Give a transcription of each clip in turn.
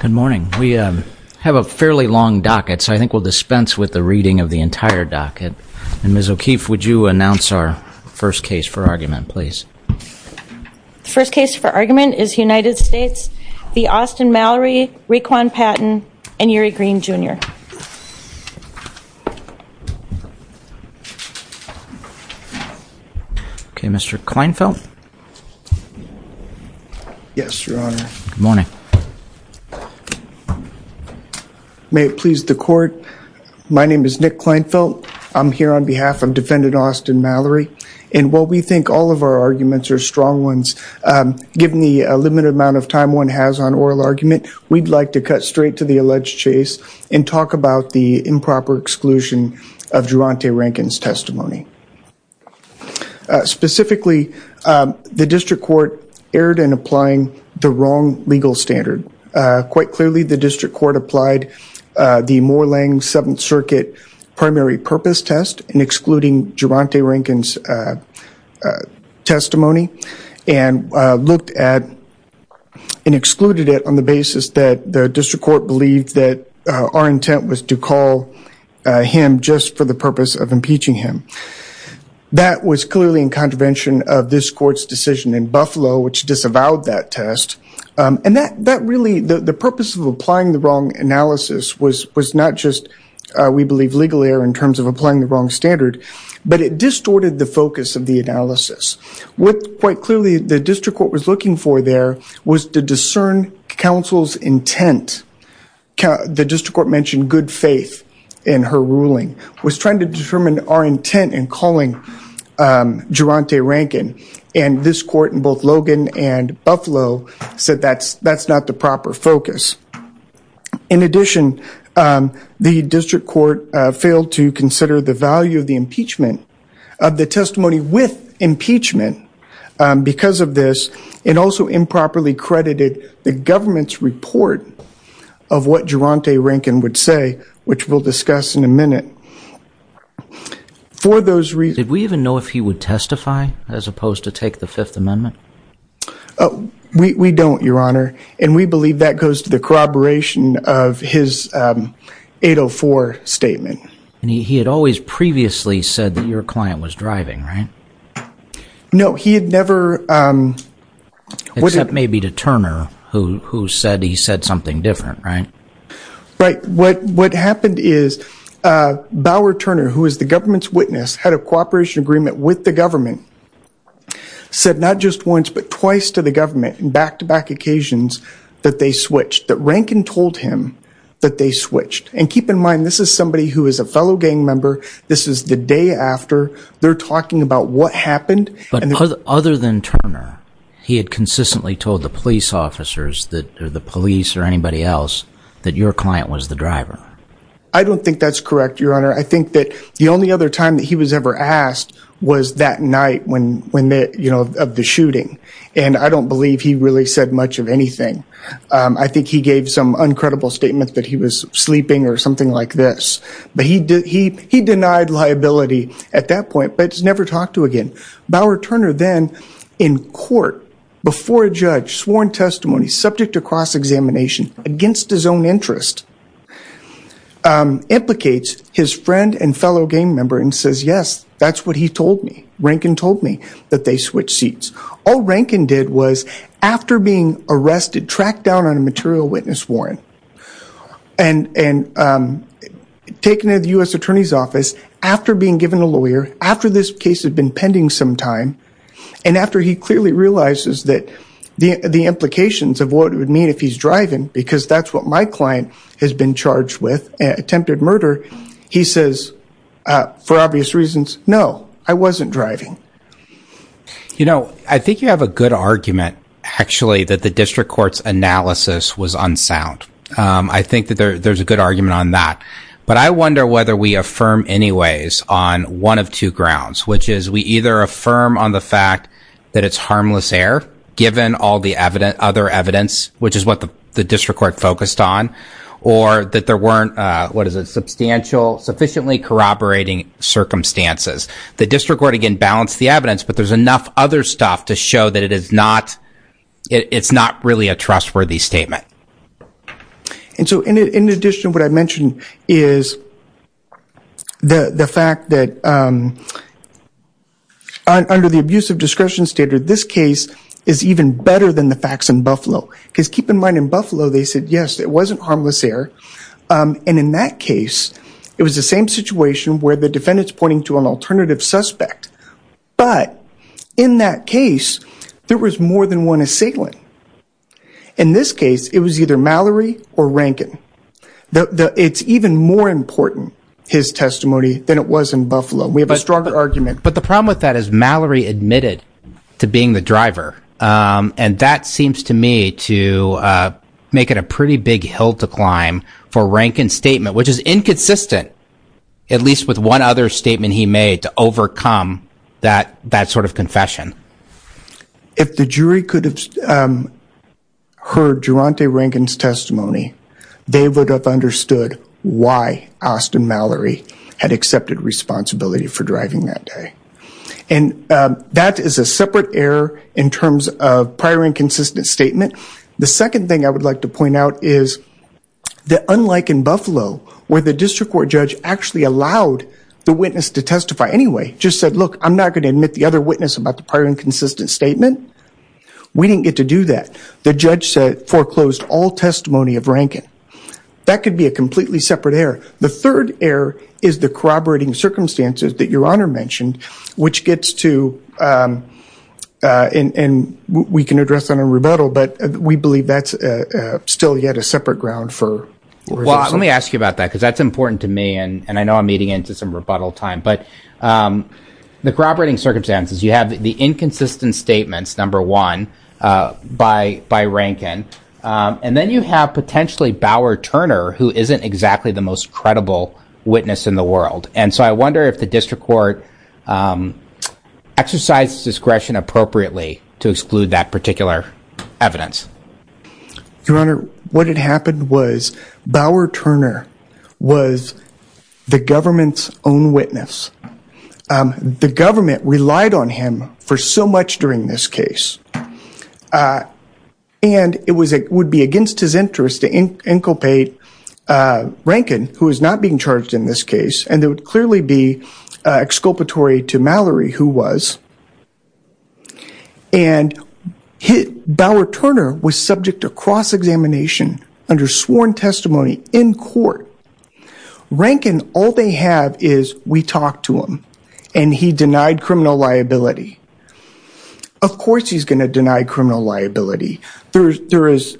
Good morning. We have a fairly long docket, so I think we'll dispense with the reading of the entire docket. And Ms. O'Keefe, would you announce our first case for argument, please? The first case for argument is United States v. Austin Mallory, Requan Patton, and Uri Green, Jr. Okay, Mr. Kleinfeld? Yes, Your Honor. Good morning. May it please the Court, my name is Nick Kleinfeld. I'm here on behalf of Defendant Austin Mallory. And while we think all of our arguments are strong ones, given the limited amount of time one has on oral argument, we'd like to cut straight to the alleged chase and talk about the improper exclusion of Durante Rankin's testimony. Specifically, the District Court erred in applying the wrong legal standard. Quite clearly, the District Court applied the Moorland Seventh Circuit primary purpose test in excluding Durante Rankin's testimony and excluded it on the basis that the District Court believed that our intent was to call him just for the purpose of impeaching him. That was clearly in contravention of this Court's decision in Buffalo, which disavowed that test. And the purpose of applying the wrong analysis was not just, we believe, legal error in terms of applying the wrong standard, but it distorted the focus of the analysis. What, quite clearly, the District Court was looking for there was to discern counsel's intent. The District Court mentioned good faith in her ruling, was trying to determine our intent in calling Durante Rankin. And this Court, in both Logan and Buffalo, said that's not the proper focus. In addition, the District Court failed to consider the value of the impeachment, of the testimony with impeachment. Because of this, it also improperly credited the government's report of what Durante Rankin would say, which we'll discuss in a minute. For those reasons... Did we even know if he would testify as opposed to take the Fifth Amendment? We don't, Your Honor. And we believe that goes to the corroboration of his 804 statement. And he had always previously said that your client was driving, right? No, he had never... Except maybe to Turner, who said he said something different, right? Right. What happened is, Bauer Turner, who is the government's witness, had a cooperation agreement with the government, said not just once, but twice to the government, in back-to-back occasions, that they switched. That Rankin told him that they switched. And keep in mind, this is somebody who is a fellow gang member. This is the day after. They're talking about what happened. But other than Turner, he had consistently told the police officers, or the police, or anybody else, that your client was the driver. I don't think that's correct, Your Honor. I think that the only other time that he was ever asked was that night of the shooting. And I don't believe he really said much of anything. I think he gave some uncredible statements that he was sleeping or something like this. But he denied liability at that point, but never talked to again. Bauer Turner then, in court, before a judge, sworn testimony, subject to cross-examination, against his own interest, implicates his friend and fellow gang member and says, yes, that's what he told me. Rankin told me that they switched seats. All Rankin did was, after being arrested, tracked down on a material witness warrant, and taken to the U.S. Attorney's Office, after being given a lawyer, after this case had been pending some time, and after he clearly realizes the implications of what it would mean if he's driving, because that's what my client has been charged with, attempted murder. He says, for obvious reasons, no, I wasn't driving. You know, I think you have a good argument, actually, that the district court's analysis was unsound. I think that there's a good argument on that. But I wonder whether we affirm anyways on one of two grounds, which is we either affirm on the fact that it's harmless error, given all the other evidence, which is what the district court focused on, or that there weren't, what is it, substantial, sufficiently corroborating circumstances. The district court, again, balanced the evidence, but there's enough other stuff to show that it is not really a trustworthy statement. And so in addition, what I mentioned is the fact that under the abusive discretion standard, this case is even better than the facts in Buffalo. Because keep in mind, in Buffalo, they said, yes, it wasn't harmless error. And in that case, it was the same situation where the defendant's pointing to an alternative suspect. But in that case, there was more than one assailant. In this case, it was either Mallory or Rankin. It's even more important, his testimony, than it was in Buffalo. We have a stronger argument. But the problem with that is Mallory admitted to being the driver. And that seems to me to make it a pretty big hill to climb for Rankin's statement, which is inconsistent, at least with one other statement he made to overcome that sort of confession. If the jury could have heard Durante Rankin's testimony, they would have understood why Austin Mallory had accepted responsibility for driving that day. And that is a separate error in terms of prior inconsistent statement. The second thing I would like to point out is that unlike in Buffalo, where the district court judge actually allowed the witness to testify anyway, just said, look, I'm not going to admit the other witness about the prior inconsistent statement. We didn't get to do that. The judge foreclosed all testimony of Rankin. That could be a completely separate error. The third error is the corroborating circumstances that Your Honor mentioned, which gets to, and we can address that in a rebuttal, but we believe that's still yet a separate ground for resistance. Well, let me ask you about that because that's important to me, and I know I'm eating into some rebuttal time. But the corroborating circumstances, you have the inconsistent statements, number one, by Rankin, and then you have potentially Bauer Turner, who isn't exactly the most credible witness in the world. And so I wonder if the district court exercised discretion appropriately to exclude that particular evidence. Your Honor, what had happened was Bauer Turner was the government's own witness. The government relied on him for so much during this case. And it would be against his interest to inculpate Rankin, who is not being charged in this case, and it would clearly be exculpatory to Mallory, who was. And Bauer Turner was subject to cross-examination under sworn testimony in court. Rankin, all they have is, we talked to him, and he denied criminal liability. Of course he's going to deny criminal liability. There is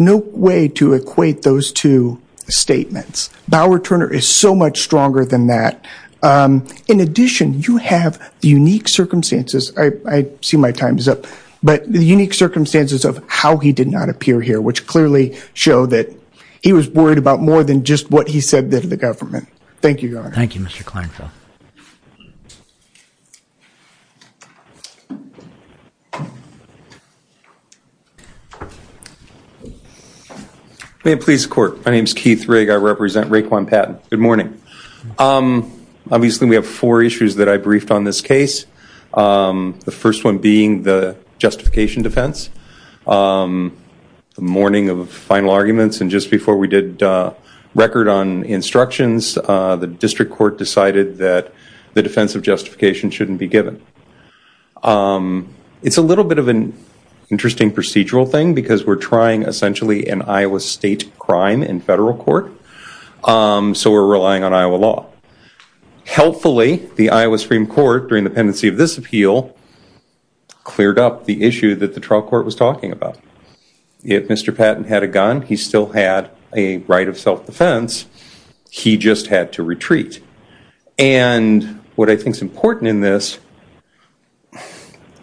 no way to equate those two statements. Bauer Turner is so much stronger than that. In addition, you have the unique circumstances, I see my time is up, but the unique circumstances of how he did not appear here, which clearly show that he was worried about more than just what he said to the government. Thank you, Your Honor. Thank you, Mr. Kleinfeld. May it please the court. My name is Keith Rigg. I represent Raekwon Patent. Good morning. Obviously we have four issues that I briefed on this case, the first one being the justification defense. The mourning of final arguments, and just before we did record on instructions, the district court decided that the defense of justification shouldn't be given. It's a little bit of an interesting procedural thing, because we're trying essentially an Iowa state crime in federal court, so we're relying on Iowa law. Helpfully, the Iowa Supreme Court, during the pendency of this appeal, cleared up the issue that the trial court was talking about. If Mr. Patent had a gun, he still had a right of self-defense, he just had to retreat. And what I think is important in this,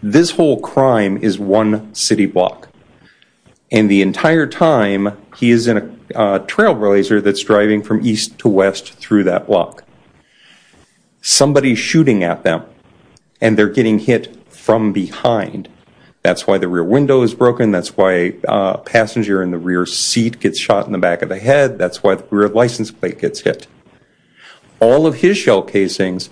this whole crime is one city block. And the entire time, he is in a trailblazer that's driving from east to west through that block. Somebody's shooting at them, and they're getting hit from behind. That's why the rear window is broken, that's why a passenger in the rear seat gets shot in the back of the head, that's why the rear license plate gets hit. All of his shell casings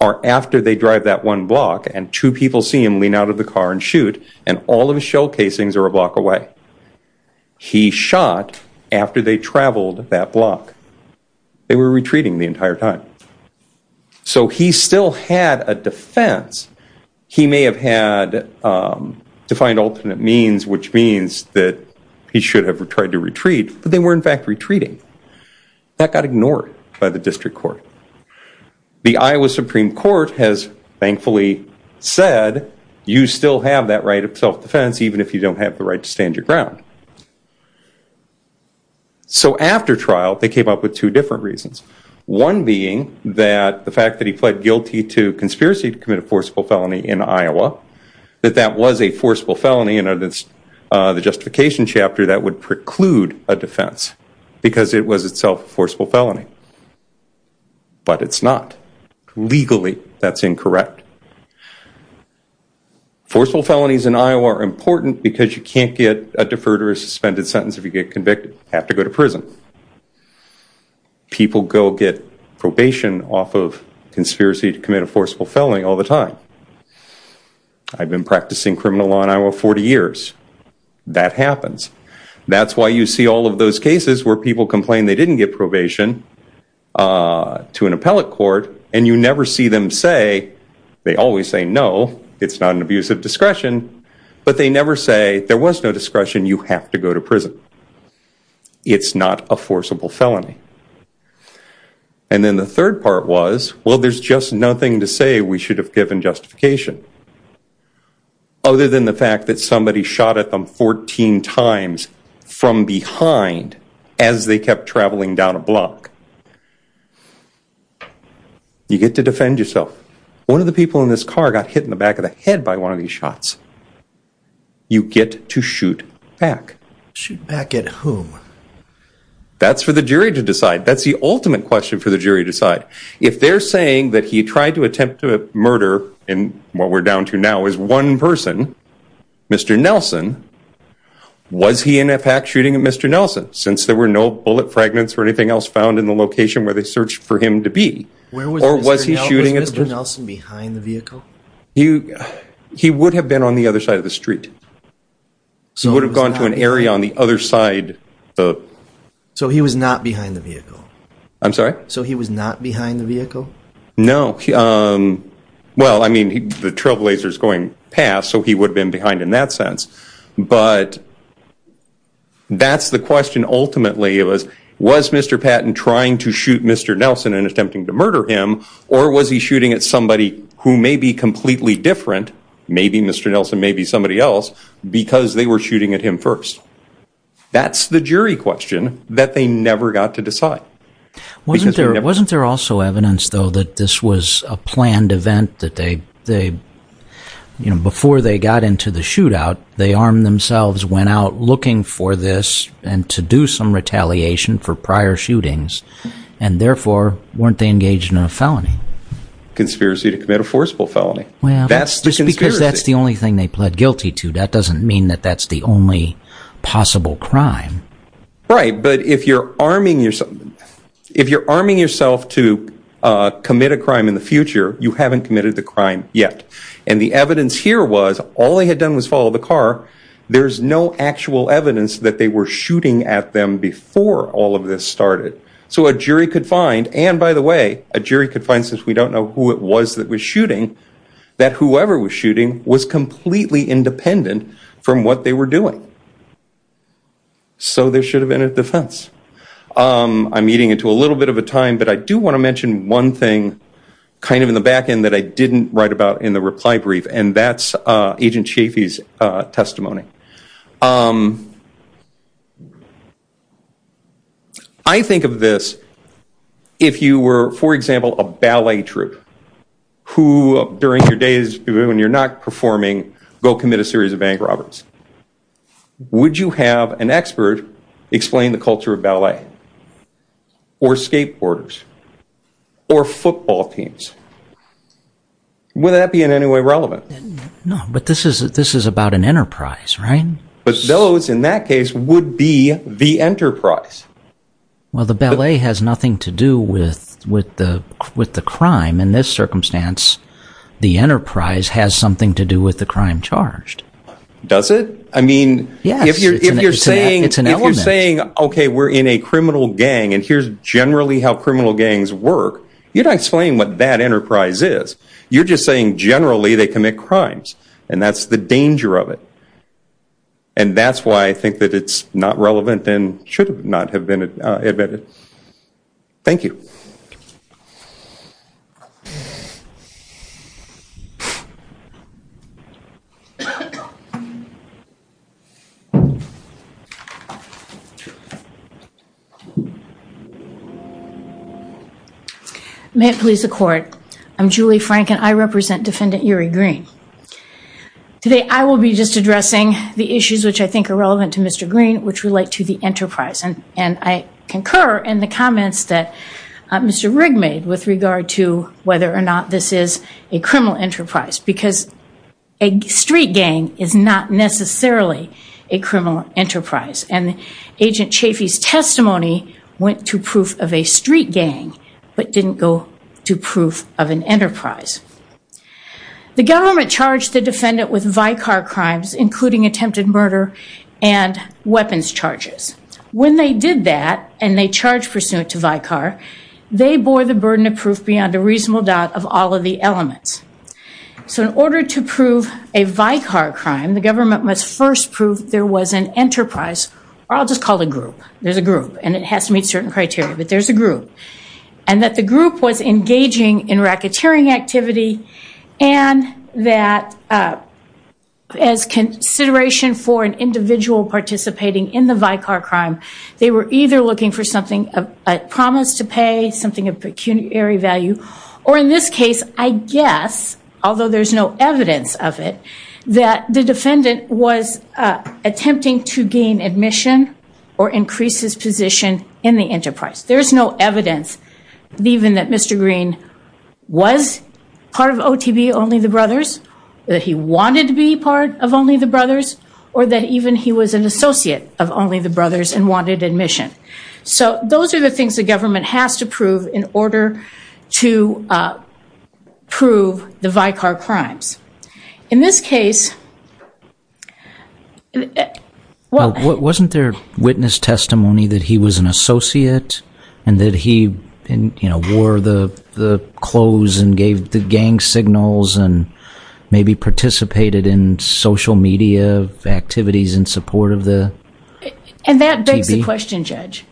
are after they drive that one block, and two people see him lean out of the car and shoot, and all of his shell casings are a block away. He shot after they traveled that block. They were retreating the entire time. So he still had a defense. He may have had defined alternate means, which means that he should have tried to retreat, but they were in fact retreating. That got ignored by the district court. The Iowa Supreme Court has thankfully said, you still have that right of self-defense even if you don't have the right to stand your ground. So after trial, they came up with two different reasons. One being that the fact that he pled guilty to conspiracy to commit a forcible felony in Iowa, that that was a forcible felony and that the justification chapter that would preclude a defense because it was itself a forcible felony. But it's not. Legally, that's incorrect. Forcible felonies in Iowa are important because you can't get a deferred or suspended sentence if you get convicted. You have to go to prison. People go get probation off of conspiracy to commit a forcible felony all the time. I've been practicing criminal law in Iowa 40 years. That happens. That's why you see all of those cases where people complain they didn't get probation to an appellate court, and you never see them say, they always say no, it's not an abuse of discretion, but they never say there was no discretion, you have to go to prison. It's not a forcible felony. And then the third part was, well, there's just nothing to say we should have given justification. Other than the fact that somebody shot at them 14 times from behind as they kept traveling down a block. You get to defend yourself. One of the people in this car got hit in the back of the head by one of these shots. You get to shoot back. Shoot back at whom? That's for the jury to decide. That's the ultimate question for the jury to decide. If they're saying that he tried to attempt a murder, and what we're down to now is one person, Mr. Nelson, was he in effect shooting at Mr. Nelson? Since there were no bullet fragments or anything else found in the location where they searched for him to be. Or was he shooting at Mr. Nelson behind the vehicle? He would have been on the other side of the street. He would have gone to an area on the other side. So he was not behind the vehicle? I'm sorry? So he was not behind the vehicle? No. Well, I mean, the trailblazer is going past, so he would have been behind in that sense. But that's the question ultimately. Was Mr. Patton trying to shoot Mr. Nelson and attempting to murder him? Or was he shooting at somebody who may be completely different, maybe Mr. Nelson, maybe somebody else, because they were shooting at him first? That's the jury question that they never got to decide. Wasn't there also evidence, though, that this was a planned event, that before they got into the shootout, they armed themselves, went out looking for this and to do some retaliation for prior shootings, and therefore weren't they engaged in a felony? Conspiracy to commit a forcible felony. Well, just because that's the only thing they pled guilty to, that doesn't mean that that's the only possible crime. Right, but if you're arming yourself to commit a crime in the future, you haven't committed the crime yet. And the evidence here was all they had done was follow the car. There's no actual evidence that they were shooting at them before all of this started. So a jury could find, and by the way, a jury could find, since we don't know who it was that was shooting, that whoever was shooting was completely independent from what they were doing. So there should have been a defense. I'm eating into a little bit of a time, but I do want to mention one thing kind of in the back end that I didn't write about in the reply brief, and that's Agent Chafee's testimony. I think of this, if you were, for example, a ballet troupe, who during your days when you're not performing, go commit a series of bank robberies, would you have an expert explain the culture of ballet, or skateboarders, or football teams? Would that be in any way relevant? No, but this is about an enterprise, right? But those, in that case, would be the enterprise. Well, the ballet has nothing to do with the crime. In this circumstance, the enterprise has something to do with the crime charged. Does it? Yes, it's an element. If you're saying, okay, we're in a criminal gang, and here's generally how criminal gangs work, you're not explaining what that enterprise is. You're just saying generally they commit crimes, and that's the danger of it. And that's why I think that it's not relevant and should not have been admitted. Thank you. May it please the Court. I'm Julie Frank, and I represent Defendant Uri Green. Today, I will be just addressing the issues which I think are relevant to Mr. Green, which relate to the enterprise. And I concur in the comments that Mr. Rigg made with regard to whether or not this is a criminal enterprise, because a street gang is not necessarily a criminal enterprise. And Agent Chafee's testimony went to proof of a street gang, but didn't go to proof of an enterprise. The government charged the defendant with Vicar crimes, including attempted murder and weapons charges. When they did that, and they charged pursuant to Vicar, they bore the burden of proof beyond a reasonable doubt of all of the elements. So in order to prove a Vicar crime, the government must first prove there was an enterprise, or I'll just call it a group. There's a group, and it has to meet certain criteria, but there's a group. And that the group was engaging in racketeering activity, and that as consideration for an individual participating in the Vicar crime, they were either looking for something, a promise to pay, something of pecuniary value, or in this case, I guess, although there's no evidence of it, that the defendant was attempting to gain admission or increase his position in the enterprise. There's no evidence even that Mr. Green was part of OTB Only the Brothers, that he wanted to be part of Only the Brothers, or that even he was an associate of Only the Brothers and wanted admission. So those are the things the government has to prove in order to prove the Vicar crimes. In this case... Well, wasn't there witness testimony that he was an associate and that he wore the clothes and gave the gang signals and maybe participated in social media activities in support of the OTB? And that begs the question, Judge,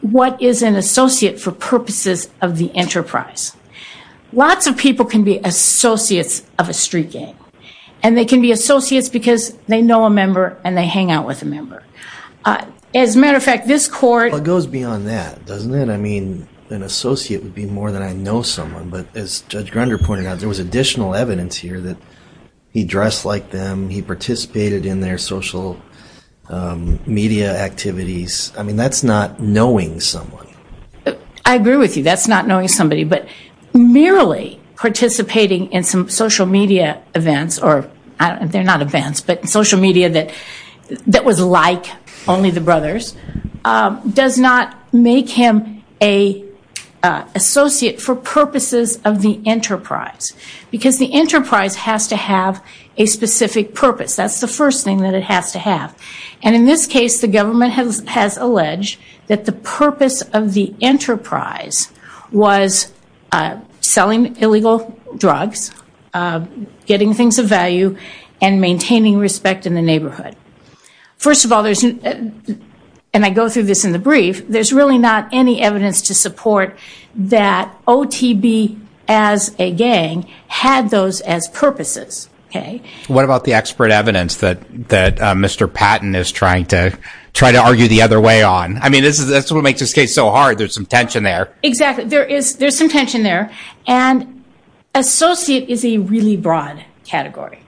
what is an associate for purposes of the enterprise? Lots of people can be associates of a street gang, and they can be associates because they know a member and they hang out with a member. As a matter of fact, this court... Well, it goes beyond that, doesn't it? I mean, an associate would be more than I know someone, but as Judge Grunder pointed out, there was additional evidence here that he dressed like them, he participated in their social media activities. I mean, that's not knowing someone. I agree with you, that's not knowing somebody, but merely participating in some social media events, or they're not events, but social media that was like Only the Brothers, does not make him an associate for purposes of the enterprise because the enterprise has to have a specific purpose. That's the first thing that it has to have. And in this case, the government has alleged that the purpose of the enterprise was selling illegal drugs, getting things of value, and maintaining respect in the neighborhood. First of all, and I go through this in the brief, there's really not any evidence to support that OTB as a gang had those as purposes. What about the expert evidence that Mr. Patton is trying to argue the other way on? I mean, that's what makes this case so hard. There's some tension there. Exactly. There's some tension there, and associate is a really broad category.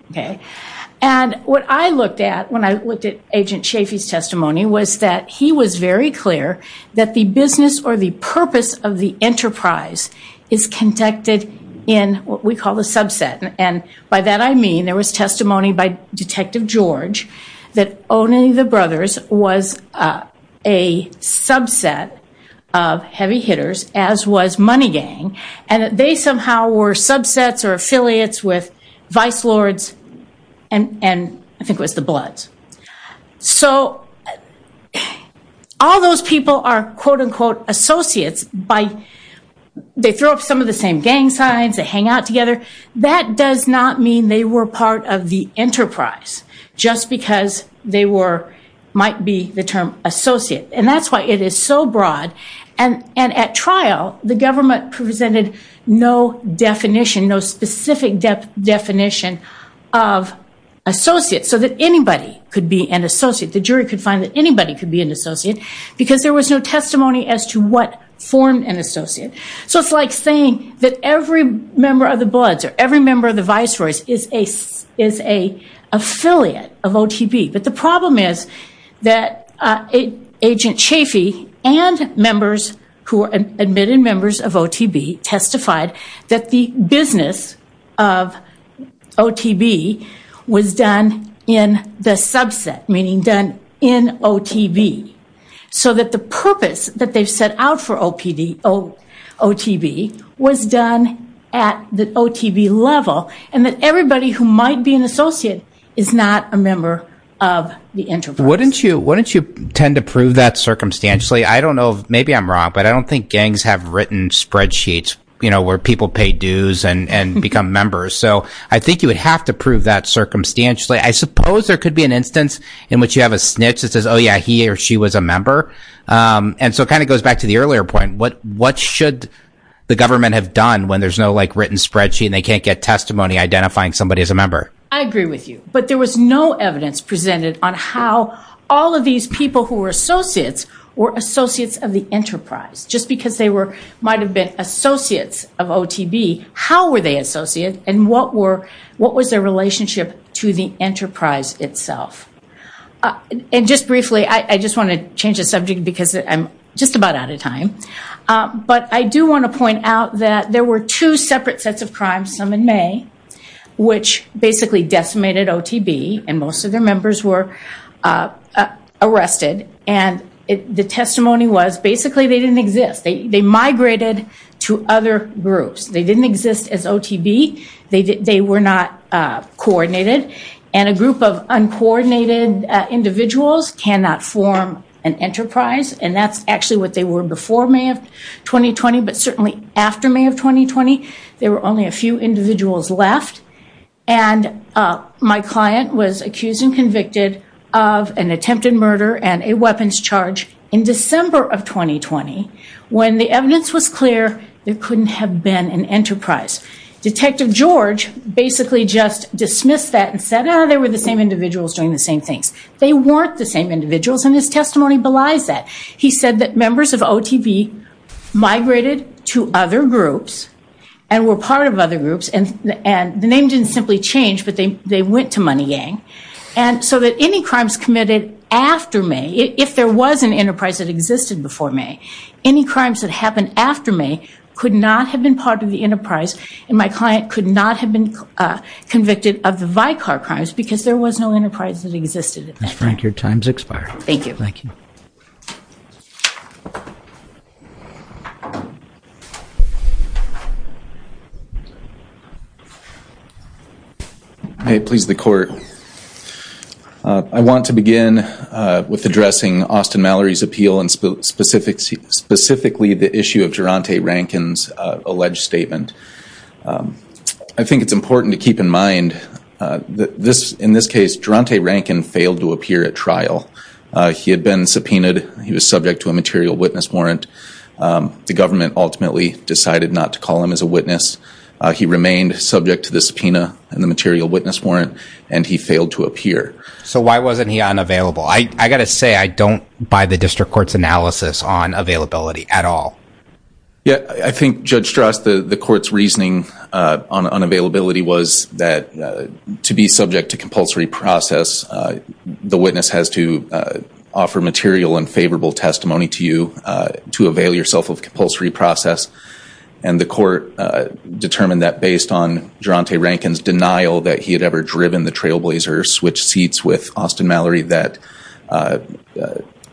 And what I looked at when I looked at Agent Chafee's testimony was that he was very clear that the business or the purpose of the enterprise is conducted in what we call the subset. And by that I mean there was testimony by Detective George that owning the brothers was a subset of heavy hitters, as was Money Gang, and that they somehow were subsets or affiliates with Vice Lords and I think it was the Bloods. So all those people are, quote, unquote, associates. They throw up some of the same gang signs. They hang out together. That does not mean they were part of the enterprise just because they might be the term associate. And that's why it is so broad. And at trial, the government presented no definition, no specific definition of associate so that anybody could be an associate. The jury could find that anybody could be an associate because there was no testimony as to what formed an associate. So it's like saying that every member of the Bloods or every member of the Vice Lords is an affiliate of OTB. But the problem is that Agent Chafee and members who were admitted members of OTB testified that the business of OTB was done in the subset, meaning done in OTB. So that the purpose that they've set out for OTB was done at the OTB level and that everybody who might be an associate is not a member of the enterprise. Wouldn't you tend to prove that circumstantially? I don't know. Maybe I'm wrong, but I don't think gangs have written spreadsheets where people pay dues and become members. So I think you would have to prove that circumstantially. I suppose there could be an instance in which you have a snitch that says, oh, yeah, he or she was a member. And so it kind of goes back to the earlier point. What should the government have done when there's no written spreadsheet and they can't get testimony identifying somebody as a member? I agree with you. But there was no evidence presented on how all of these people who were associates were associates of the enterprise. Just because they might have been associates of OTB, how were they associates and what was their relationship to the enterprise itself? And just briefly, I just want to change the subject because I'm just about out of time. But I do want to point out that there were two separate sets of crimes, some in May, which basically decimated OTB and most of their members were arrested. And the testimony was basically they didn't exist. They migrated to other groups. They didn't exist as OTB. They were not coordinated. And a group of uncoordinated individuals cannot form an enterprise. And that's actually what they were before May of 2020, but certainly after May of 2020. There were only a few individuals left. And my client was accused and convicted of an attempted murder and a weapons charge in December of 2020 when the evidence was clear there couldn't have been an enterprise. Detective George basically just dismissed that and said, oh, they were the same individuals doing the same things. They weren't the same individuals, and his testimony belies that. He said that members of OTB migrated to other groups and were part of other groups. And the name didn't simply change, but they went to Money Yang. And so that any crimes committed after May, if there was an enterprise that existed before May, any crimes that happened after May could not have been part of the enterprise, and my client could not have been convicted of the Vicar crimes because there was no enterprise that existed at that time. Ms. Frank, your time has expired. Thank you. Thank you. May it please the Court. I want to begin with addressing Austin Mallory's appeal and specifically the issue of Geronte Rankin's alleged statement. I think it's important to keep in mind that in this case Geronte Rankin failed to appear at trial. He had been subpoenaed. He was subject to a material witness warrant. The government ultimately decided not to call him as a witness. He remained subject to the subpoena and the material witness warrant, and he failed to appear. So why wasn't he unavailable? I've got to say I don't buy the district court's analysis on availability at all. I think, Judge Strass, the court's reasoning on unavailability was that to be subject to compulsory process, the witness has to offer material and favorable testimony to you to avail yourself of compulsory process. And the court determined that based on Geronte Rankin's denial that he had ever driven the trailblazer or switched seats with Austin Mallory that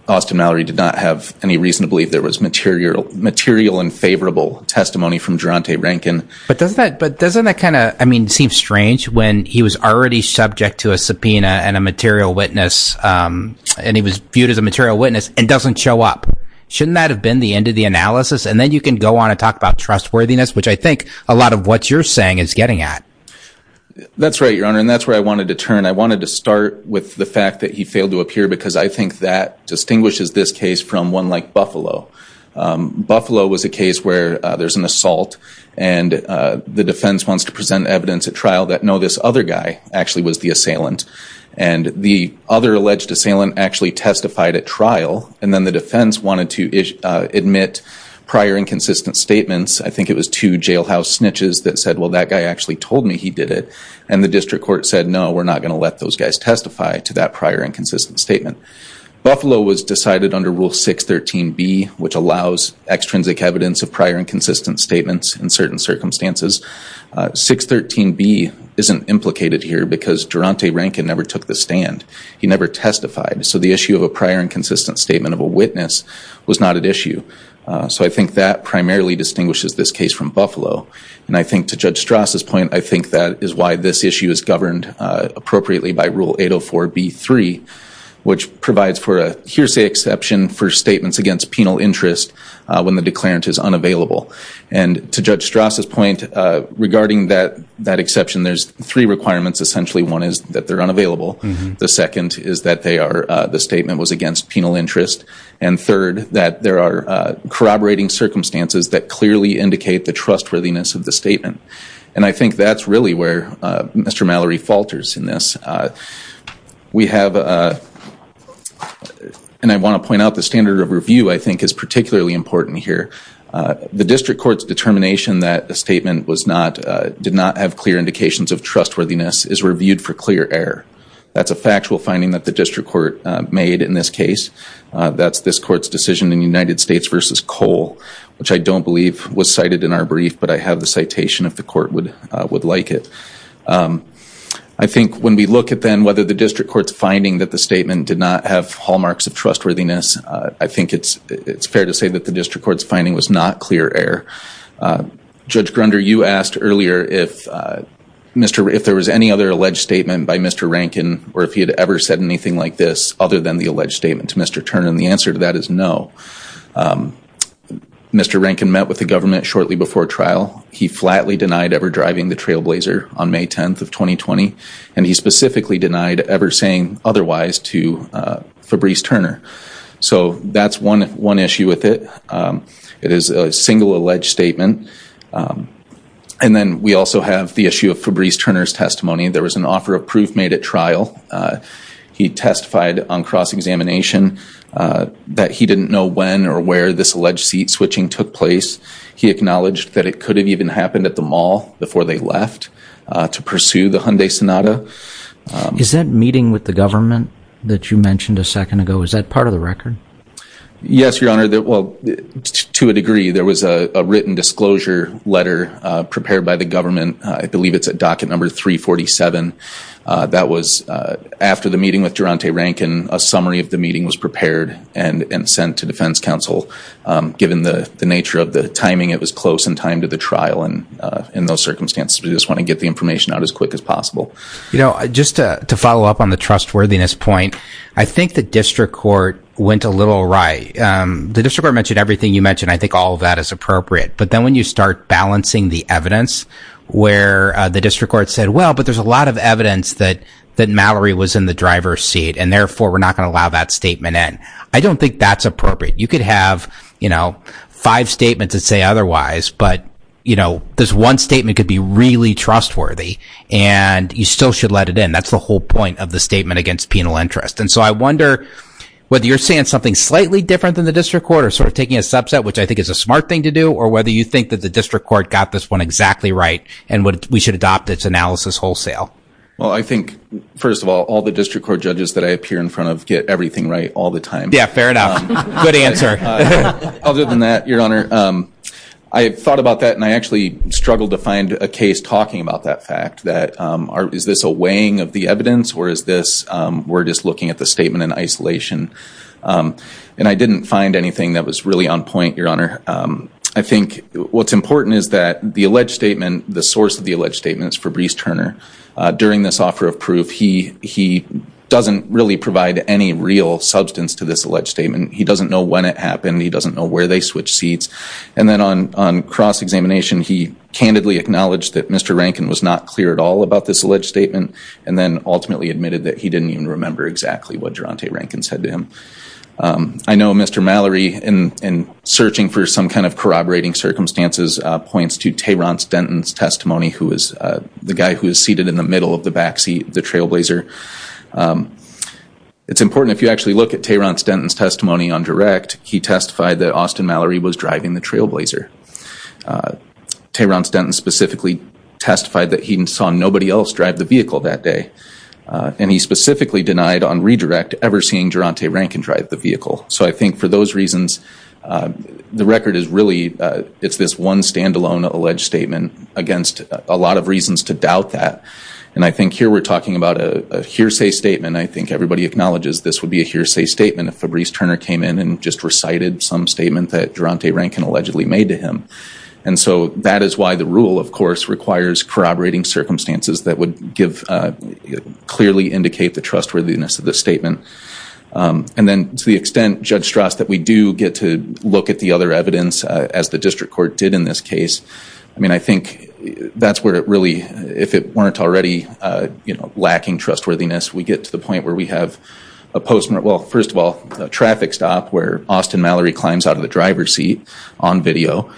Austin Mallory did not have any reason to believe there was material and favorable testimony from Geronte Rankin. But doesn't that kind of seem strange when he was already subject to a subpoena and a material witness and he was viewed as a material witness and doesn't show up? Shouldn't that have been the end of the analysis? And then you can go on and talk about trustworthiness, which I think a lot of what you're saying is getting at. That's right, Your Honor, and that's where I wanted to turn. I wanted to start with the fact that he failed to appear because I think that distinguishes this case from one like Buffalo. Buffalo was a case where there's an assault and the defense wants to present evidence at trial that, no, this other guy actually was the assailant. And the other alleged assailant actually testified at trial. And then the defense wanted to admit prior inconsistent statements. I think it was two jailhouse snitches that said, well, that guy actually told me he did it. And the district court said, no, we're not going to let those guys testify to that prior inconsistent statement. Buffalo was decided under Rule 613B, which allows extrinsic evidence of prior inconsistent statements in certain circumstances. 613B isn't implicated here because Durante Rankin never took the stand. He never testified. So the issue of a prior inconsistent statement of a witness was not at issue. So I think that primarily distinguishes this case from Buffalo. And I think to Judge Strauss' point, I think that is why this issue is governed appropriately by Rule 804B3, which provides for a hearsay exception for statements against penal interest when the declarant is unavailable. And to Judge Strauss' point, regarding that exception, there's three requirements. Essentially, one is that they're unavailable. The second is that the statement was against penal interest. And third, that there are corroborating circumstances that clearly indicate the trustworthiness of the statement. And I think that's really where Mr. Mallory falters in this. We have, and I want to point out the standard of review, I think, is particularly important here. The district court's determination that a statement did not have clear indications of trustworthiness is reviewed for clear error. That's a factual finding that the district court made in this case. That's this court's decision in United States v. Cole, which I don't believe was cited in our brief, but I have the citation if the court would like it. I think when we look at then whether the district court's finding that the statement did not have hallmarks of trustworthiness, I think it's fair to say that the district court's finding was not clear error. Judge Grunder, you asked earlier if there was any other alleged statement by Mr. Rankin, or if he had ever said anything like this other than the alleged statement to Mr. Turner. And the answer to that is no. Mr. Rankin met with the government shortly before trial. He flatly denied ever driving the Trailblazer on May 10th of 2020. And he specifically denied ever saying otherwise to Fabrice Turner. So that's one issue with it. It is a single alleged statement. And then we also have the issue of Fabrice Turner's testimony. There was an offer of proof made at trial. He testified on cross-examination that he didn't know when or where this alleged seat switching took place. He acknowledged that it could have even happened at the mall before they left to pursue the Hyundai Sonata. Is that meeting with the government that you mentioned a second ago, is that part of the record? Yes, Your Honor. Well, to a degree, there was a written disclosure letter prepared by the government. I believe it's at docket number 347. That was after the meeting with Durante Rankin. A summary of the meeting was prepared and sent to defense counsel. Given the nature of the timing, it was close in time to the trial in those circumstances. We just want to get the information out as quick as possible. Just to follow up on the trustworthiness point, I think the district court went a little awry. The district court mentioned everything you mentioned. I think all of that is appropriate. But then when you start balancing the evidence where the district court said, well, but there's a lot of evidence that Mallory was in the driver's seat. And therefore, we're not going to allow that statement in. I don't think that's appropriate. You could have five statements that say otherwise. But this one statement could be really trustworthy. And you still should let it in. That's the whole point of the statement against penal interest. And so I wonder whether you're saying something slightly different than the district court or sort of taking a subset, which I think is a smart thing to do, or whether you think that the district court got this one exactly right and we should adopt its analysis wholesale. Well, I think, first of all, all the district court judges that I appear in front of get everything right all the time. Yeah, fair enough. Good answer. Other than that, Your Honor, I have thought about that. And I actually struggled to find a case talking about that fact, that is this a weighing of the evidence or is this we're just looking at the statement in isolation? And I didn't find anything that was really on point, Your Honor. I think what's important is that the alleged statement, the source of the alleged statement is Fabrice Turner. During this offer of proof, he doesn't really provide any real substance to this alleged statement. He doesn't know when it happened. He doesn't know where they switched seats. And then on cross-examination, he candidly acknowledged that Mr. Rankin was not clear at all about this alleged statement and then ultimately admitted that he didn't even remember exactly what Geronte Rankin said to him. I know Mr. Mallory, in searching for some kind of corroborating circumstances, points to Tehran Stenton's testimony, who is the guy who is seated in the middle of the backseat of the Trailblazer. It's important if you actually look at Tehran Stenton's testimony on direct, he testified that Austin Mallory was driving the Trailblazer. Tehran Stenton specifically testified that he saw nobody else drive the vehicle that day. And he specifically denied on redirect ever seeing Geronte Rankin drive the vehicle. So I think for those reasons, the record is really, it's this one stand-alone alleged statement against a lot of reasons to doubt that. And I think here we're talking about a hearsay statement. I think everybody acknowledges this would be a hearsay statement if Fabrice Turner came in and just recited some statement that Geronte Rankin allegedly made to him. And so that is why the rule, of course, requires corroborating circumstances that would give, clearly indicate the trustworthiness of the statement. And then to the extent, Judge Strass, that we do get to look at the other evidence, as the district court did in this case, I mean, I think that's where it really, if it weren't already, you know, lacking trustworthiness, we get to the point where we have a postmortem, well, first of all, a traffic stop where Austin Mallory climbs out of the driver's seat on video.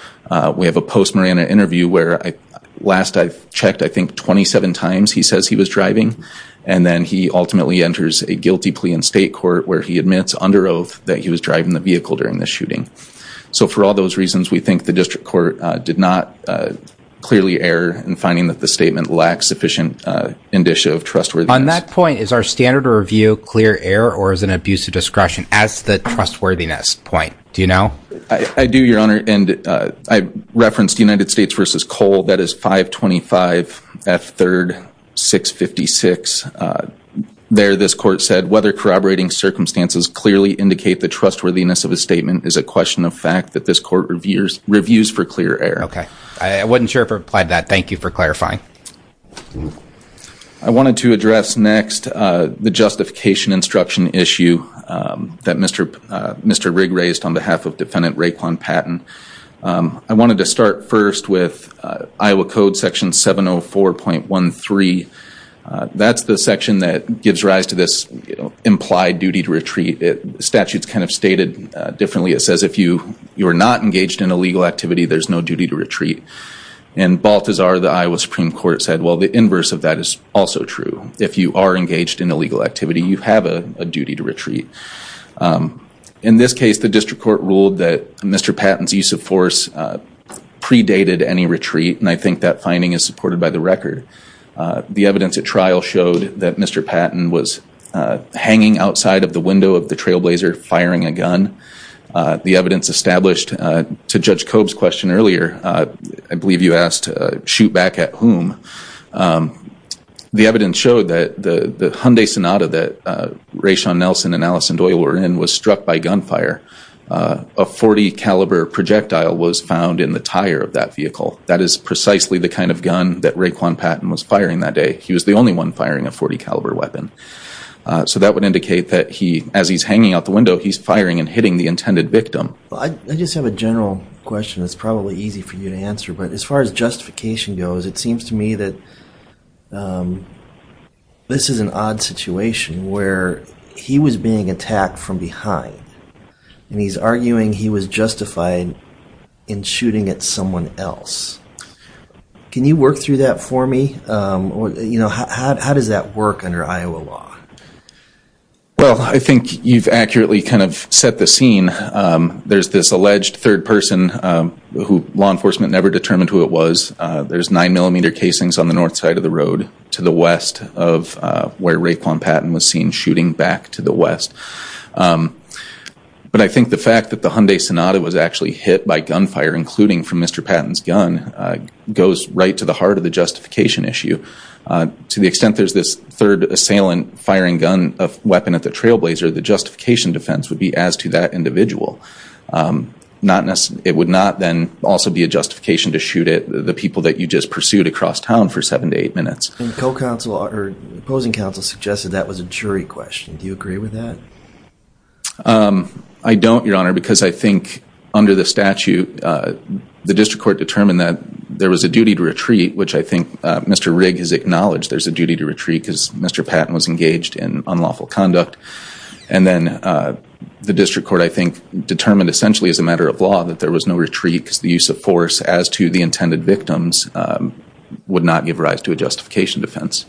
We have a post-mortem interview where last I've checked, I think 27 times he says he was driving. And then he ultimately enters a guilty plea in state court where he admits under oath that he was driving the vehicle during the shooting. So for all those reasons, we think the district court did not clearly err in finding that the statement lacks sufficient indicia of trustworthiness. On that point, is our standard of review clear error or is an abuse of discretion as the trustworthiness point? Do you know? I do, Your Honor, and I referenced United States v. Cole. That is 525 F. 3rd 656. There, this court said, whether corroborating circumstances clearly indicate the trustworthiness of a statement is a question of fact that this court reviews for clear error. Okay. I wasn't sure if it applied to that. Thank you for clarifying. I wanted to address next the justification instruction issue that Mr. Rigg raised on behalf of Defendant Raekwon Patton. I wanted to start first with Iowa Code Section 704.13. That's the section that gives rise to this implied duty to retreat. Statutes kind of stated differently. It says if you are not engaged in illegal activity, there's no duty to retreat. In Balthazar, the Iowa Supreme Court said, well, the inverse of that is also true. If you are engaged in illegal activity, you have a duty to retreat. In this case, the district court ruled that Mr. Patton's use of force predated any retreat, and I think that finding is supported by the record. The evidence at trial showed that Mr. Patton was hanging outside of the window of the trailblazer firing a gun. The evidence established to Judge Cobb's question earlier, I believe you asked, shoot back at whom? The evidence showed that the Hyundai Sonata that Raishan Nelson and Allison Doyle were in was struck by gunfire. A .40 caliber projectile was found in the tire of that vehicle. That is precisely the kind of gun that Raekwon Patton was firing that day. He was the only one firing a .40 caliber weapon. So that would indicate that as he's hanging out the window, he's firing and hitting the intended victim. I just have a general question that's probably easy for you to answer. But as far as justification goes, it seems to me that this is an odd situation where he was being attacked from behind. And he's arguing he was justified in shooting at someone else. Can you work through that for me? How does that work under Iowa law? Well, I think you've accurately kind of set the scene. There's this alleged third person who law enforcement never determined who it was. There's nine millimeter casings on the north side of the road to the west of where Raekwon Patton was seen shooting back to the west. But I think the fact that the Hyundai Sonata was actually hit by gunfire, including from Mr. Patton's gun, goes right to the heart of the justification issue. To the extent there's this third assailant firing a weapon at the trailblazer, the justification defense would be as to that individual. It would not then also be a justification to shoot at the people that you just pursued across town for seven to eight minutes. And opposing counsel suggested that was a jury question. Do you agree with that? I don't, Your Honor, because I think under the statute, the district court determined that there was a duty to retreat, which I think Mr. Rigg has acknowledged there's a duty to retreat because Mr. Patton was engaged in unlawful conduct. And then the district court, I think, determined essentially as a matter of law that there was no retreat because the use of force as to the intended victims would not give rise to a justification defense.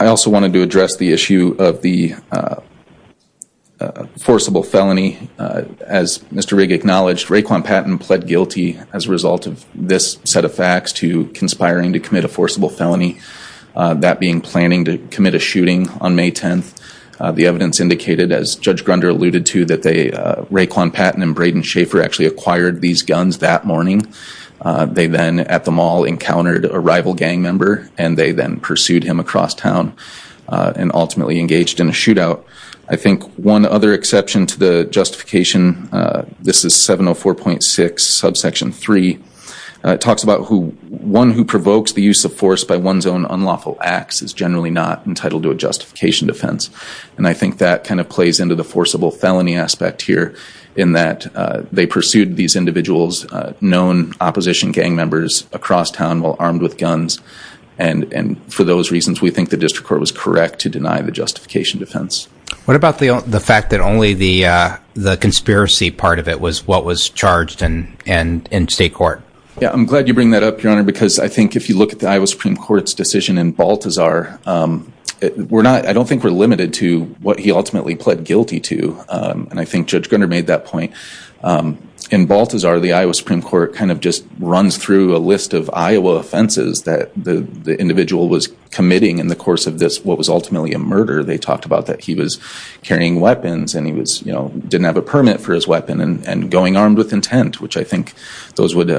I also wanted to address the issue of the forcible felony. As Mr. Rigg acknowledged, Raekwon Patton pled guilty as a result of this set of facts to conspiring to commit a forcible felony. That being planning to commit a shooting on May 10th. The evidence indicated, as Judge Grunder alluded to, that Raekwon Patton and Braden Schaefer actually acquired these guns that morning. They then at the mall encountered a rival gang member and they then pursued him across town and ultimately engaged in a shootout. I think one other exception to the justification, this is 704.6 subsection 3, talks about who one who provokes the use of force by one's own unlawful acts is generally not entitled to a justification defense. And I think that kind of plays into the forcible felony aspect here in that they pursued these individuals, known opposition gang members across town while armed with guns. And for those reasons, we think the district court was correct to deny the justification defense. What about the fact that only the conspiracy part of it was what was charged in state court? Yeah, I'm glad you bring that up, Your Honor, because I think if you look at the Iowa Supreme Court's decision in Baltazar, I don't think we're limited to what he ultimately pled guilty to. And I think Judge Grunder made that point. In Baltazar, the Iowa Supreme Court kind of just runs through a list of Iowa offenses that the individual was committing in the course of this, what was ultimately a murder. They talked about that he was carrying weapons and he didn't have a permit for his weapon and going armed with intent, which I think those would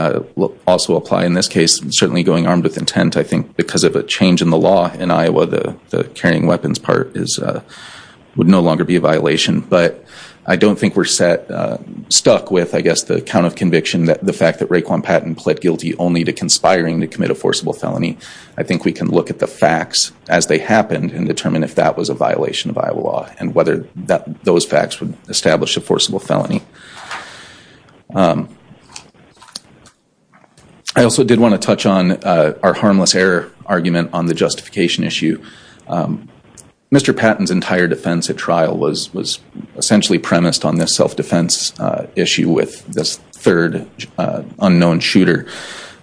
also apply in this case. Certainly going armed with intent, I think because of a change in the law in Iowa, the carrying weapons part would no longer be a violation. But I don't think we're stuck with, I guess, the count of conviction, the fact that Raekwon Patton pled guilty only to conspiring to commit a forcible felony. I think we can look at the facts as they happened and determine if that was a violation of Iowa law and whether those facts would establish a forcible felony. I also did want to touch on our harmless error argument on the justification issue. Mr. Patton's entire defense at trial was essentially premised on this self-defense issue with this third unknown shooter.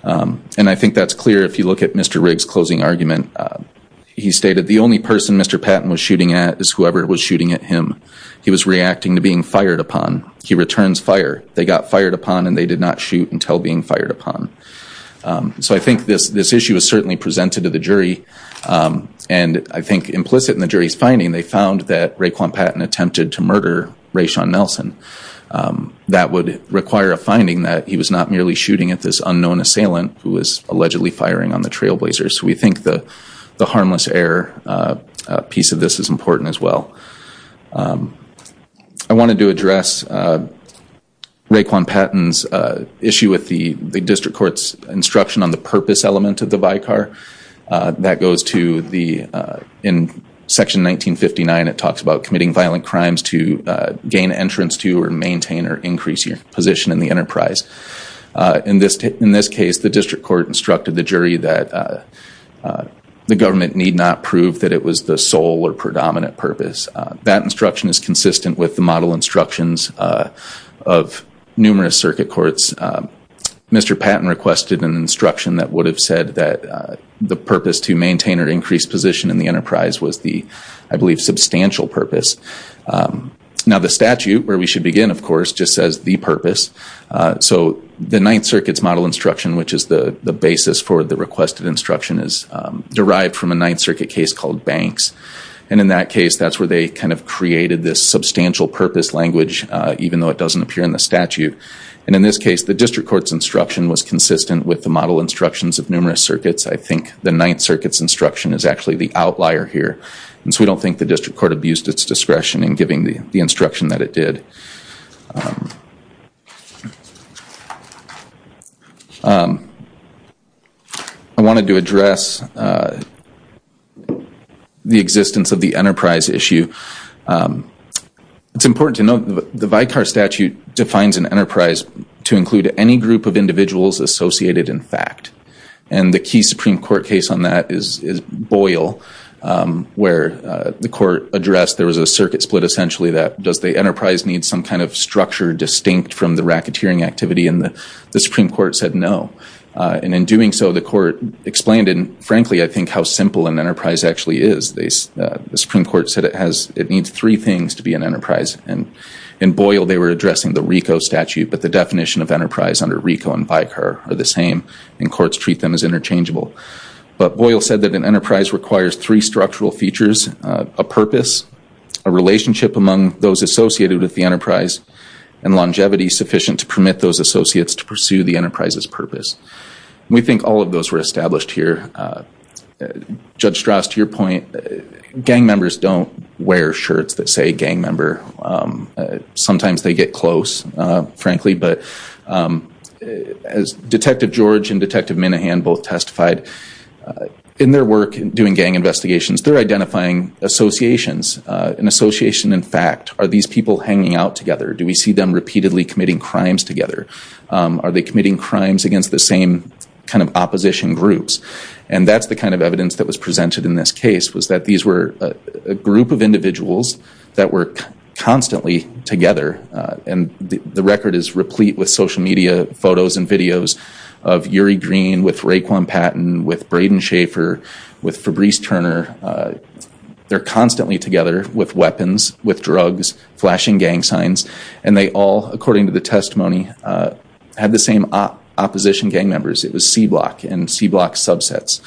And I think that's clear if you look at Mr. Riggs' closing argument. He stated, the only person Mr. Patton was shooting at is whoever was shooting at him. He was reacting to being fired upon. He returns fire. They got fired upon and they did not shoot until being fired upon. So I think this issue is certainly presented to the jury. And I think implicit in the jury's finding, they found that Raekwon Patton attempted to murder Raishon Nelson. That would require a finding that he was not merely shooting at this unknown assailant who was allegedly firing on the trailblazers. So we think the harmless error piece of this is important as well. I wanted to address Raekwon Patton's issue with the district court's instruction on the purpose element of the Vicar. That goes to the section 1959. It talks about committing violent crimes to gain entrance to or maintain or increase your position in the enterprise. In this case, the district court instructed the jury that the government need not prove that it was the sole or predominant purpose. That instruction is consistent with the model instructions of numerous circuit courts. Mr. Patton requested an instruction that would have said that the purpose to maintain or increase position in the enterprise was the, I believe, substantial purpose. Now the statute, where we should begin, of course, just says the purpose. So the Ninth Circuit's model instruction, which is the basis for the requested instruction, is derived from a Ninth Circuit case called Banks. And in that case, that's where they kind of created this substantial purpose language, even though it doesn't appear in the statute. And in this case, the district court's instruction was consistent with the model instructions of numerous circuits. I think the Ninth Circuit's instruction is actually the outlier here. And so we don't think the district court abused its discretion in giving the instruction that it did. I wanted to address the existence of the enterprise issue. It's important to note that the Vicar statute defines an enterprise to include any group of individuals associated in fact. And the key Supreme Court case on that is Boyle, where the court addressed there was a circuit split essentially that does the enterprise need some kind of structure distinct from the racketeering activity. And the Supreme Court said no. And in doing so, the court explained, and frankly, I think how simple an enterprise actually is. The Supreme Court said it needs three things to be an enterprise. And in Boyle, they were addressing the RICO statute, but the definition of enterprise under RICO and Vicar are the same, and courts treat them as interchangeable. But Boyle said that an enterprise requires three structural features, a purpose, a relationship among those associated with the enterprise, and longevity sufficient to permit those associates to pursue the enterprise's purpose. We think all of those were established here. Judge Strauss, to your point, gang members don't wear shirts that say gang member. Sometimes they get close, frankly, but as Detective George and Detective Minahan both testified, in their work in doing gang investigations, they're identifying associations, an association in fact. Are these people hanging out together? Do we see them repeatedly committing crimes together? Are they committing crimes against the same kind of opposition groups? And that's the kind of evidence that was presented in this case, was that these were a group of individuals that were constantly together. And the record is replete with social media photos and videos of Yuri Green with Raekwon Patton, with Braden Schaefer, with Fabrice Turner. They're constantly together with weapons, with drugs, flashing gang signs. And they all, according to the testimony, had the same opposition gang members. It was C-Block and C-Block subsets.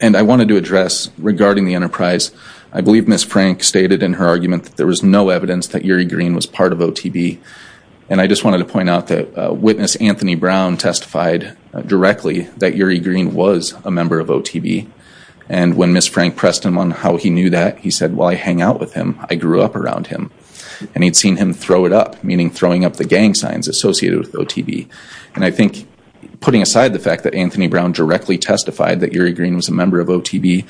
And I wanted to address, regarding the enterprise, I believe Ms. Frank stated in her argument that there was no evidence that Yuri Green was part of OTB. And I just wanted to point out that witness Anthony Brown testified directly that Yuri Green was a member of OTB. And when Ms. Frank pressed him on how he knew that, he said, well, I hang out with him. I grew up around him. And he'd seen him throw it up, meaning throwing up the gang signs associated with OTB. And I think, putting aside the fact that Anthony Brown directly testified that Yuri Green was a member of OTB,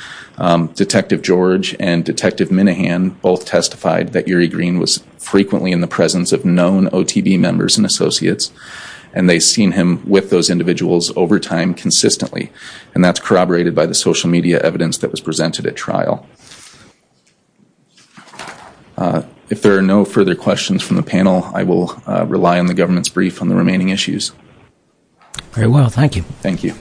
Detective George and Detective Minahan both testified that Yuri Green was frequently in the presence of known OTB members and associates. And they'd seen him with those individuals over time consistently. And that's corroborated by the social media evidence that was presented at trial. If there are no further questions from the panel, I will rely on the government's brief on the remaining issues. Very well. Thank you. Thank you.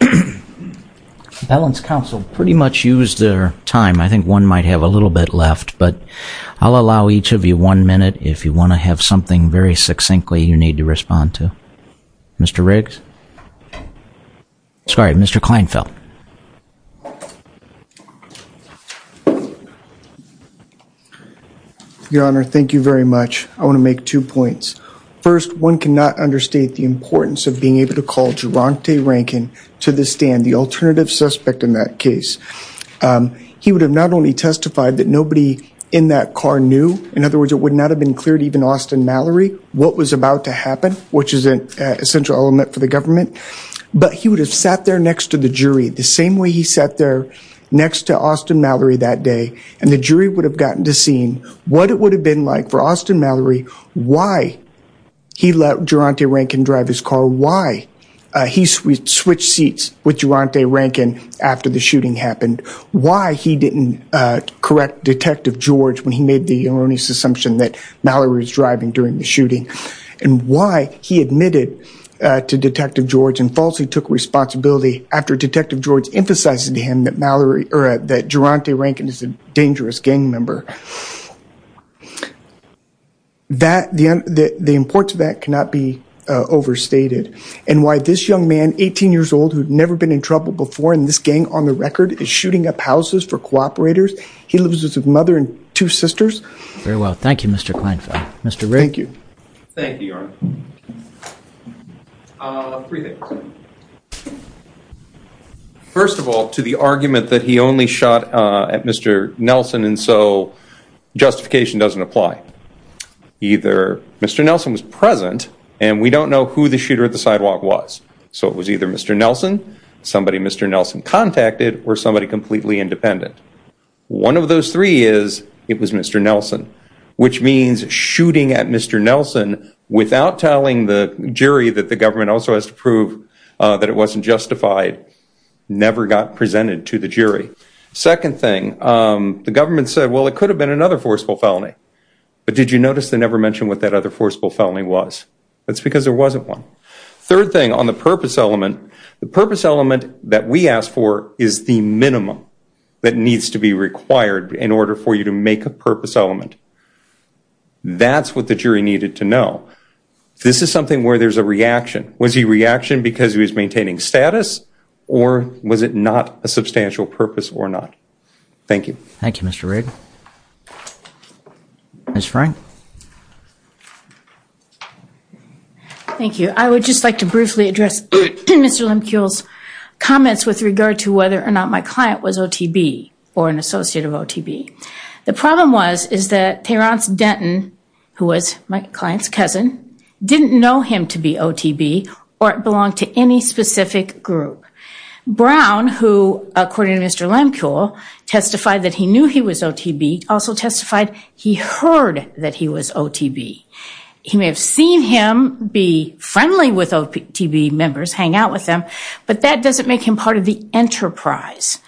The balance counsel pretty much used their time. I think one might have a little bit left. But I'll allow each of you one minute if you want to have something very succinctly you need to respond to. Mr. Riggs. Sorry, Mr. Kleinfeld. Your Honor, thank you very much. I want to make two points. First, one cannot understate the importance of being able to call Geronte Rankin to the stand, the alternative suspect in that case. He would have not only testified that nobody in that car knew, in other words, it would not have been clear to even Austin Mallory what was about to happen, which is an essential element for the government, but he would have sat there next to the jury, the same way he sat there next to Austin Mallory that day, and the jury would have gotten to seeing what it would have been like for Austin Mallory, why he let Geronte Rankin drive his car, why he switched seats with Geronte Rankin after the shooting happened, why he didn't correct Detective George when he made the erroneous assumption that Mallory was driving during the shooting, and why he admitted to Detective George and falsely took responsibility after Detective George emphasized to him that Geronte Rankin is a dangerous gang member. The importance of that cannot be overstated. And why this young man, 18 years old, who had never been in trouble before in this gang on the record, is shooting up houses for cooperators. He lives with his mother and two sisters. Very well. Thank you, Mr. Kleinfeld. Mr. Rankin. Thank you, Your Honor. Three things. First of all, to the argument that he only shot at Mr. Nelson and so justification doesn't apply. Either Mr. Nelson was present and we don't know who the shooter at the sidewalk was, so it was either Mr. Nelson, somebody Mr. Nelson contacted, or somebody completely independent. One of those three is it was Mr. Nelson, which means shooting at Mr. Nelson without telling the jury that the government also has to prove that it wasn't justified never got presented to the jury. Second thing, the government said, well, it could have been another forceful felony. But did you notice they never mentioned what that other forceful felony was? That's because there wasn't one. Third thing, on the purpose element, the purpose element that we asked for is the minimum that needs to be required in order for you to make a purpose element. That's what the jury needed to know. This is something where there's a reaction. Was he reaction because he was maintaining status or was it not a substantial purpose or not? Thank you. Thank you, Mr. Rigg. Ms. Frank. Thank you. I would just like to briefly address Mr. Lemkew's comments with regard to whether or not my client was OTB or an associate of OTB. The problem was is that Terence Denton, who was my client's cousin, didn't know him to be OTB or belong to any specific group. Brown, who, according to Mr. Lemkew, testified that he knew he was OTB, also testified he heard that he was OTB. He may have seen him be friendly with OTB members, hang out with them, but that doesn't make him part of the enterprise.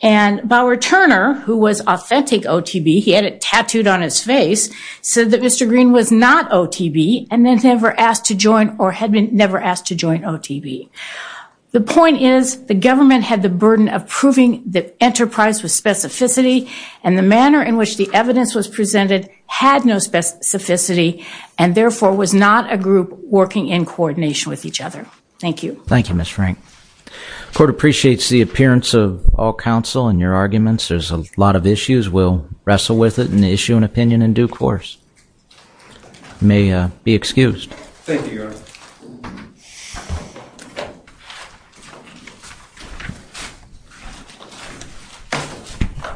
And Bauer Turner, who was authentic OTB, he had it tattooed on his face, said that Mr. Green was not OTB and had never asked to join or had been never asked to join OTB. The point is the government had the burden of proving the enterprise was specificity and the manner in which the evidence was presented had no specificity and, therefore, was not a group working in coordination with each other. Thank you. Thank you, Ms. Frank. The court appreciates the appearance of all counsel in your arguments. There's a lot of issues. We'll wrestle with it and issue an opinion in due course. You may be excused. Thank you, Your Honor.